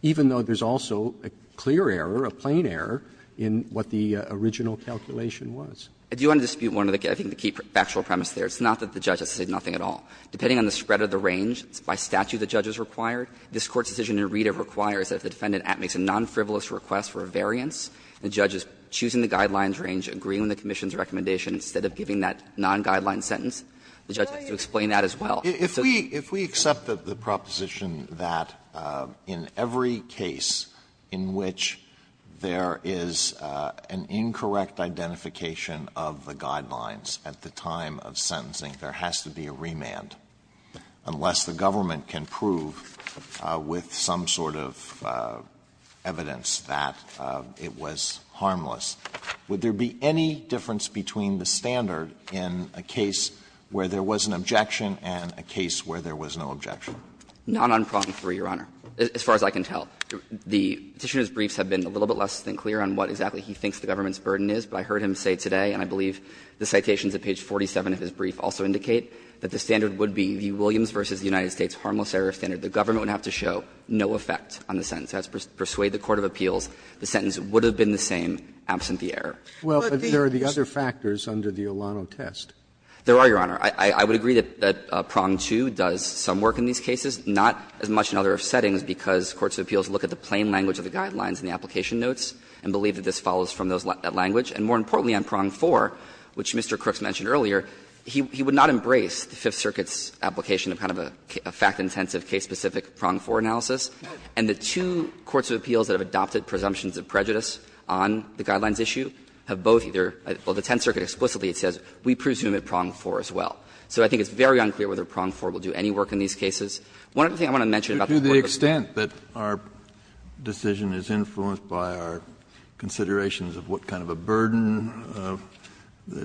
even though there's also a clear error, a plain error, in what the original calculation was. I do want to dispute one of the key factual premises there. It's not that the judge has to say nothing at all. Depending on the spread of the range, by statute the judge is required, this Court's decision in Reda requires that if the defendant makes a non-frivolous request for a variance, the judge is choosing the guidelines range, agreeing with the commission's recommendation, instead of giving that non-guideline sentence, the judge has to explain that as well. Alitoso, if we accept the proposition that in every case in which there is an incorrect identification of the guidelines at the time of sentencing, there has to be a remand, unless the government can prove with some sort of evidence that it was harmless, would there be any difference between the standard in a case where there was an objection and a case where there was no objection? Burschel, not on prong 3, Your Honor, as far as I can tell. The Petitioner's briefs have been a little bit less than clear on what exactly he thinks the government's burden is, but I heard him say today, and I believe the citations at page 47 of his brief also indicate that the standard would be the Williams v. United States harmless error standard. The government would have to show no effect on the sentence. That's to persuade the court of appeals, the sentence would have been the same absent the error. Roberts, but there are the other factors under the Olano test. There are, Your Honor. I would agree that prong 2 does some work in these cases, not as much in other settings, because courts of appeals look at the plain language of the guidelines in the application notes and believe that this follows from that language. And more importantly, on prong 4, which Mr. Crooks mentioned earlier, he would not embrace the Fifth Circuit's application of kind of a fact-intensive, case-specific prong 4 analysis. And the two courts of appeals that have adopted presumptions of prejudice on the guidelines issue have both either or the Tenth Circuit explicitly says we presume at prong 4 as well. So I think it's very unclear whether prong 4 will do any work in these cases. One other thing I want to mention about the court of appeals. Kennedy, to the extent that our decision is influenced by our considerations of what kind of a burden,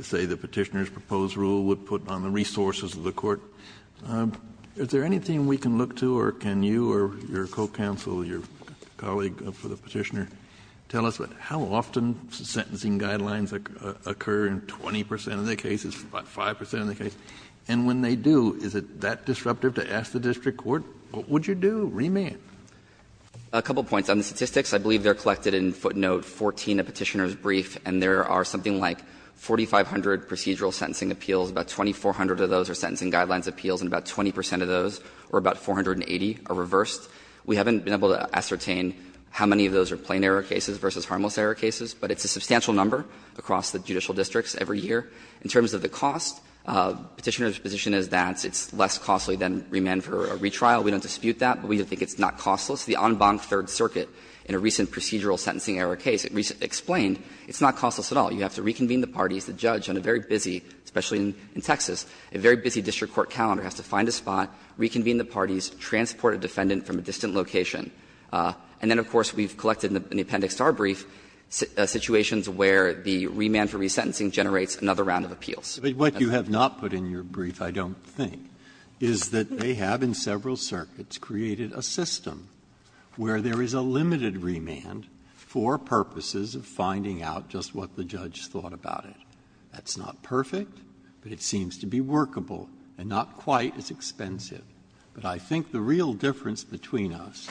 say, the Petitioner's proposed rule would put on the resources of the court, is there anything we can look to, or can you or your co-counsel, your colleague for the Petitioner, tell us how often sentencing guidelines occur in 20 percent of the cases, 5 percent of the cases? And when they do, is it that disruptive to ask the district court, what would you do, remand? A couple of points. On the statistics, I believe they're collected in footnote 14 of Petitioner's brief, and there are something like 4,500 procedural sentencing appeals, about 2,400 of those are sentencing guidelines appeals, and about 20 percent of those, or about 480, are reversed. We haven't been able to ascertain how many of those are plain error cases versus harmless error cases, but it's a substantial number across the judicial districts every year. In terms of the cost, Petitioner's position is that it's less costly than remand for a retrial. We don't dispute that, but we think it's not costless. The en banc Third Circuit, in a recent procedural sentencing error case, explained it's not costless at all. You have to reconvene the parties, the judge, on a very busy, especially in Texas, a very busy district court calendar, has to find a spot, reconvene the parties, transport a defendant from a distant location. And then, of course, we've collected in the appendix to our brief, situations where the remand for resentencing generates another round of appeals. Breyer. But what you have not put in your brief, I don't think, is that they have, in several circuits, created a system where there is a limited remand for purposes of finding out just what the judge thought about it. That's not perfect, but it seems to be workable, and not quite as expensive. But I think the real difference between us,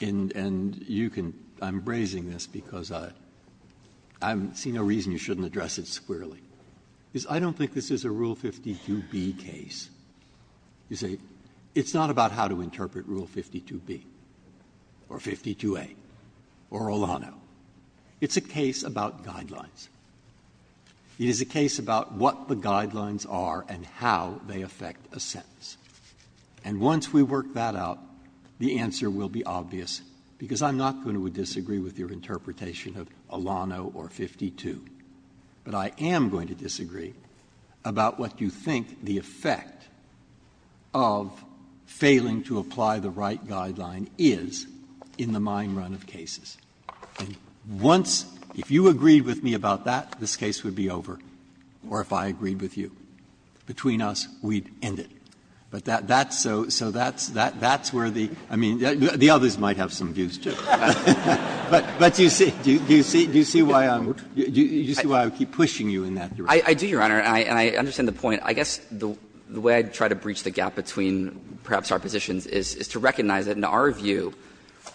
and you can – I'm bracing this because I see no reason you shouldn't address it squarely, is I don't think this is a Rule 52b case. You say, it's not about how to interpret Rule 52b, or 52a, or Olano. It's a case about guidelines. It is a case about what the guidelines are and how they affect a sentence. And once we work that out, the answer will be obvious, because I'm not going to disagree with your interpretation of Olano or 52. But I am going to disagree about what you think the effect of failing to apply the right guideline is in the mine run of cases. And once, if you agreed with me about that, this case would be over, or if I agreed with you. Between us, we'd end it. But that's so – so that's where the – I mean, the others might have some views, too. But do you see – do you see why I'm – do you see why I keep pushing you in that direction? I do, Your Honor, and I understand the point. I guess the way I try to breach the gap between perhaps our positions is to recognize that in our view,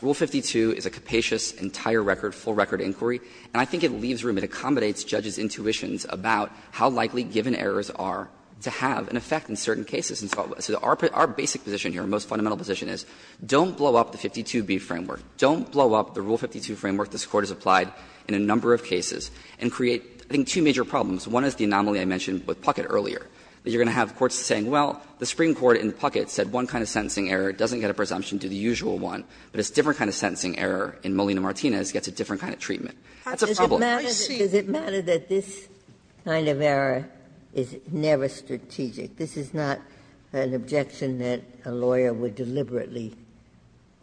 Rule 52 is a capacious, entire record, full record inquiry, and I think it leaves room. It accommodates judges' intuitions about how likely given errors are to have an effect in certain cases. And so our basic position here, our most fundamental position is, don't blow up the 52b framework. Don't blow up the Rule 52 framework this Court has applied in a number of cases and create, I think, two major problems. One is the anomaly I mentioned with Puckett earlier, that you're going to have courts saying, well, the Supreme Court in Puckett said one kind of sentencing error doesn't get a presumption to the usual one, but a different kind of sentencing error in Molina Martinez gets a different kind of treatment. That's a problem. Ginsburg. I see. Ginsburg. Does it matter that this kind of error is never strategic? This is not an objection that a lawyer would deliberately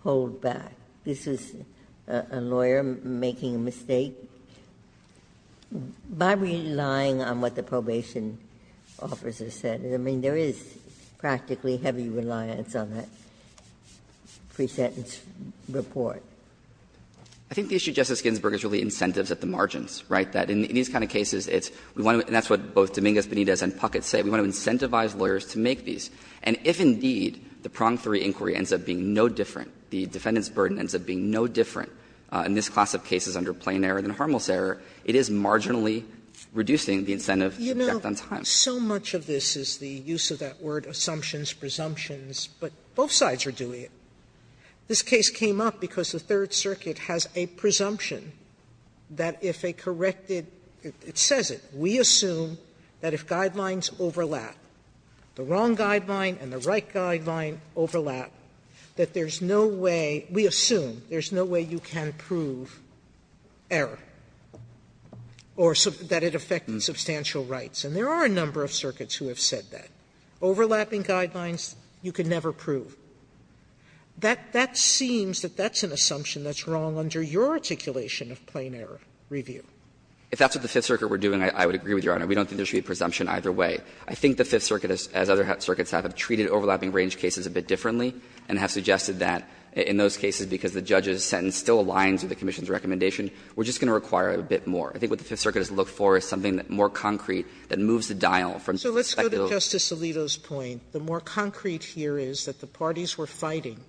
hold back. This is a lawyer making a mistake by relying on what the probation officer said. I mean, there is practically heavy reliance on that pre-sentence report. I think the issue, Justice Ginsburg, is really incentives at the margins, right? That in these kind of cases, it's we want to do it, and that's what both Dominguez, Benitez, and Puckett say. We want to incentivize lawyers to make these. And if, indeed, the prong three inquiry ends up being no different, the defendant's argument ends up being no different in this class of cases under plain error than Harmel's error, it is marginally reducing the incentive to object on time. Sotomayor, you know, so much of this is the use of that word assumptions, presumptions, but both sides are doing it. This case came up because the Third Circuit has a presumption that if a corrected – it says it. We assume that if guidelines overlap, the wrong guideline and the right guideline overlap, that there's no way – we assume there's no way you can prove error or that it affected substantial rights. And there are a number of circuits who have said that. Overlapping guidelines, you can never prove. That seems that that's an assumption that's wrong under your articulation of plain error review. If that's what the Fifth Circuit were doing, I would agree with Your Honor. We don't think there should be a presumption either way. I think the Fifth Circuit, as other circuits have, have treated overlapping range cases a bit differently and have suggested that in those cases, because the judge's sentence still aligns with the commission's recommendation, we're just going to require a bit more. I think what the Fifth Circuit has looked for is something that's more concrete, that moves the dial from the speculative. Sotomayor, so let's go to Justice Alito's point. The more concrete here is that the parties were fighting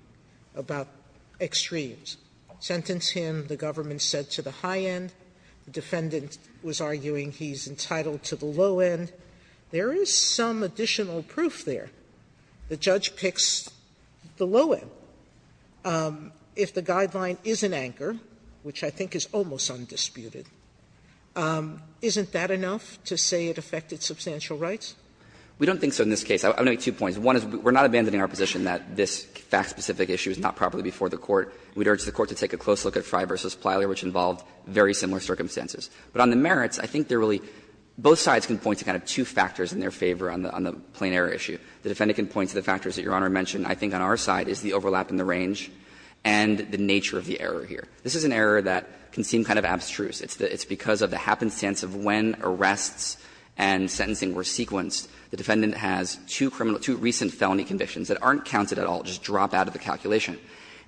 about extremes. Sentence him, the government said to the high end. The defendant was arguing he's entitled to the low end. There is some additional proof there. The judge picks the low end. If the guideline is an anchor, which I think is almost undisputed, isn't that enough to say it affected substantial rights? We don't think so in this case. I'm going to make two points. One is we're not abandoning our position that this fact-specific issue is not properly before the Court. We'd urge the Court to take a close look at Fry v. Plyler, which involved very similar circumstances. But on the merits, I think they're really – both sides can point to kind of two factors in their favor on the plain error issue. The defendant can point to the factors that Your Honor mentioned. I think on our side is the overlap in the range and the nature of the error here. This is an error that can seem kind of abstruse. It's because of the happenstance of when arrests and sentencing were sequenced. The defendant has two criminal – two recent felony convictions that aren't counted at all, just drop out of the calculation.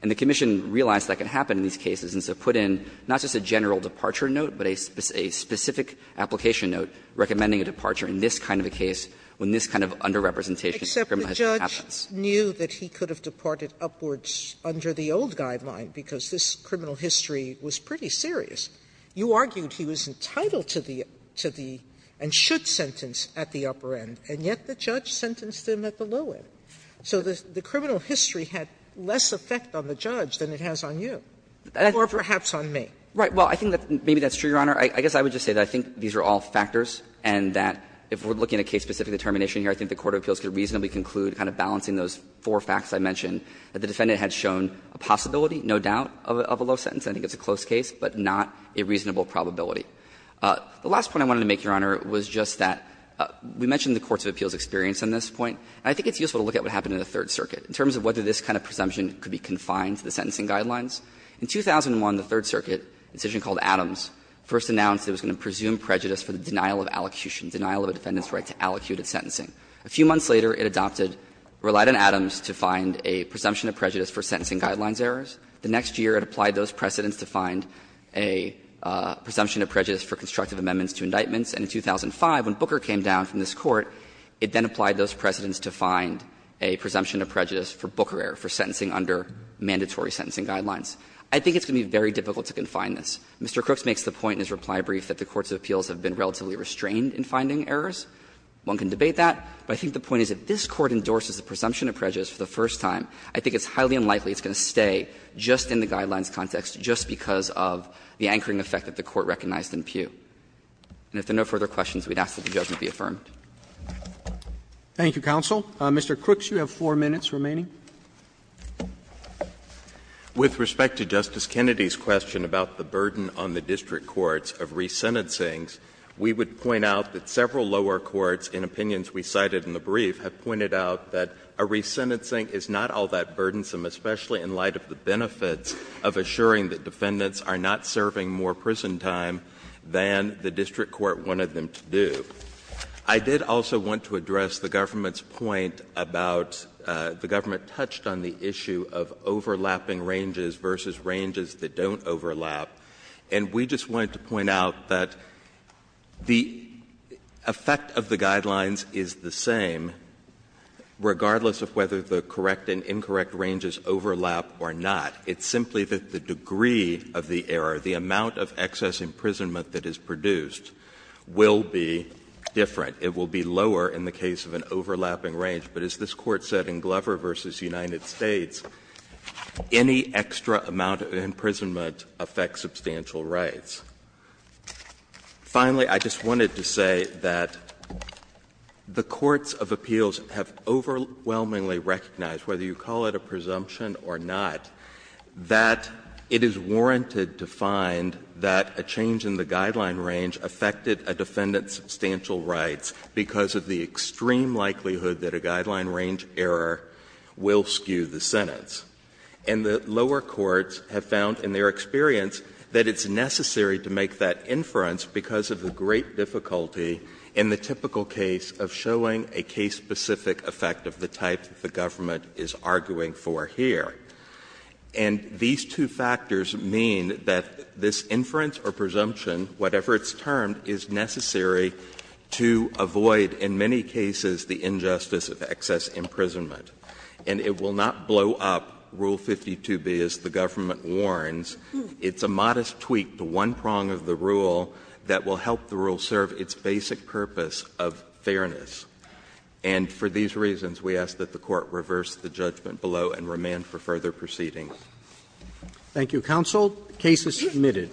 And the commission realized that could happen in these cases, and so put in not just a general departure note, but a specific application note recommending a departure in this kind of a case when this kind of underrepresentation of criminal history happens. Sotomayor, except the judge knew that he could have departed upwards under the old guideline because this criminal history was pretty serious. You argued he was entitled to the – to the and should sentence at the upper end, and yet the judge sentenced him at the low end. So the criminal history had less effect on the judge than it has on you, or perhaps on me. Right. Well, I think that maybe that's true, Your Honor. I guess I would just say that I think these are all factors and that if we're looking at case-specific determination here, I think the court of appeals could reasonably conclude, kind of balancing those four facts I mentioned, that the defendant had shown a possibility, no doubt, of a low sentence. I think it's a close case, but not a reasonable probability. The last point I wanted to make, Your Honor, was just that we mentioned the courts of appeals experience on this point, and I think it's useful to look at what happened in the Third Circuit in terms of whether this kind of presumption could be confined to the sentencing guidelines. In 2001, the Third Circuit, a decision called Adams, first announced it was going to presume prejudice for the denial of allocution, denial of a defendant's right to allocutive sentencing. A few months later, it adopted, relied on Adams to find a presumption of prejudice for sentencing guidelines errors. The next year, it applied those precedents to find a presumption of prejudice for constructive amendments to indictments, and in 2005, when Booker came down from this Court, it then applied those precedents to find a presumption of prejudice for Booker error, for sentencing under mandatory sentencing guidelines. I think it's going to be very difficult to confine this. Mr. Crooks makes the point in his reply brief that the courts of appeals have been relatively restrained in finding errors. One can debate that, but I think the point is if this Court endorses the presumption of prejudice for the first time, I think it's highly unlikely it's going to stay just in the guidelines context, just because of the anchoring effect that the Court recognized in Peugh. And if there are no further questions, we'd ask that the judgment be affirmed. Roberts Thank you, counsel. Mr. Crooks, you have four minutes remaining. Crooks With respect to Justice Kennedy's question about the burden on the district courts of resentencings, we would point out that several lower courts, in opinions we cited in the brief, have pointed out that a resentencing is not all that burdensome, especially in light of the benefits of assuring that defendants are not serving more prison time than the district court wanted them to do. I did also want to address the government's point about the government touched on the issue of overlapping ranges versus ranges that don't overlap, and we just wanted to point out that the effect of the guidelines is the same, regardless of whether the correct and incorrect ranges overlap or not. It's simply that the degree of the error, the amount of excess imprisonment that is produced, will be different. It will be lower in the case of an overlapping range. But as this Court said in Glover v. United States, any extra amount of imprisonment affects substantial rights. Finally, I just wanted to say that the courts of appeals have overwhelmingly recognized, whether you call it a presumption or not, that it is warranted to find that a change in the guideline range affected a defendant's substantial rights because of the extreme likelihood that a guideline range error will skew the sentence. And the lower courts have found in their experience that it's necessary to make that inference because of the great difficulty in the typical case of showing a case-specific effect of the type that the government is arguing for here. And these two factors mean that this inference or presumption, whatever it's termed, is necessary to avoid in many cases the injustice of excess imprisonment. And it will not blow up Rule 52b, as the government warns. It's a modest tweak to one prong of the rule that will help the rule serve its basic purpose of fairness. And for these reasons, we ask that the Court reverse the judgment below and remand the government for further proceedings. Roberts. Thank you, counsel. The case is submitted.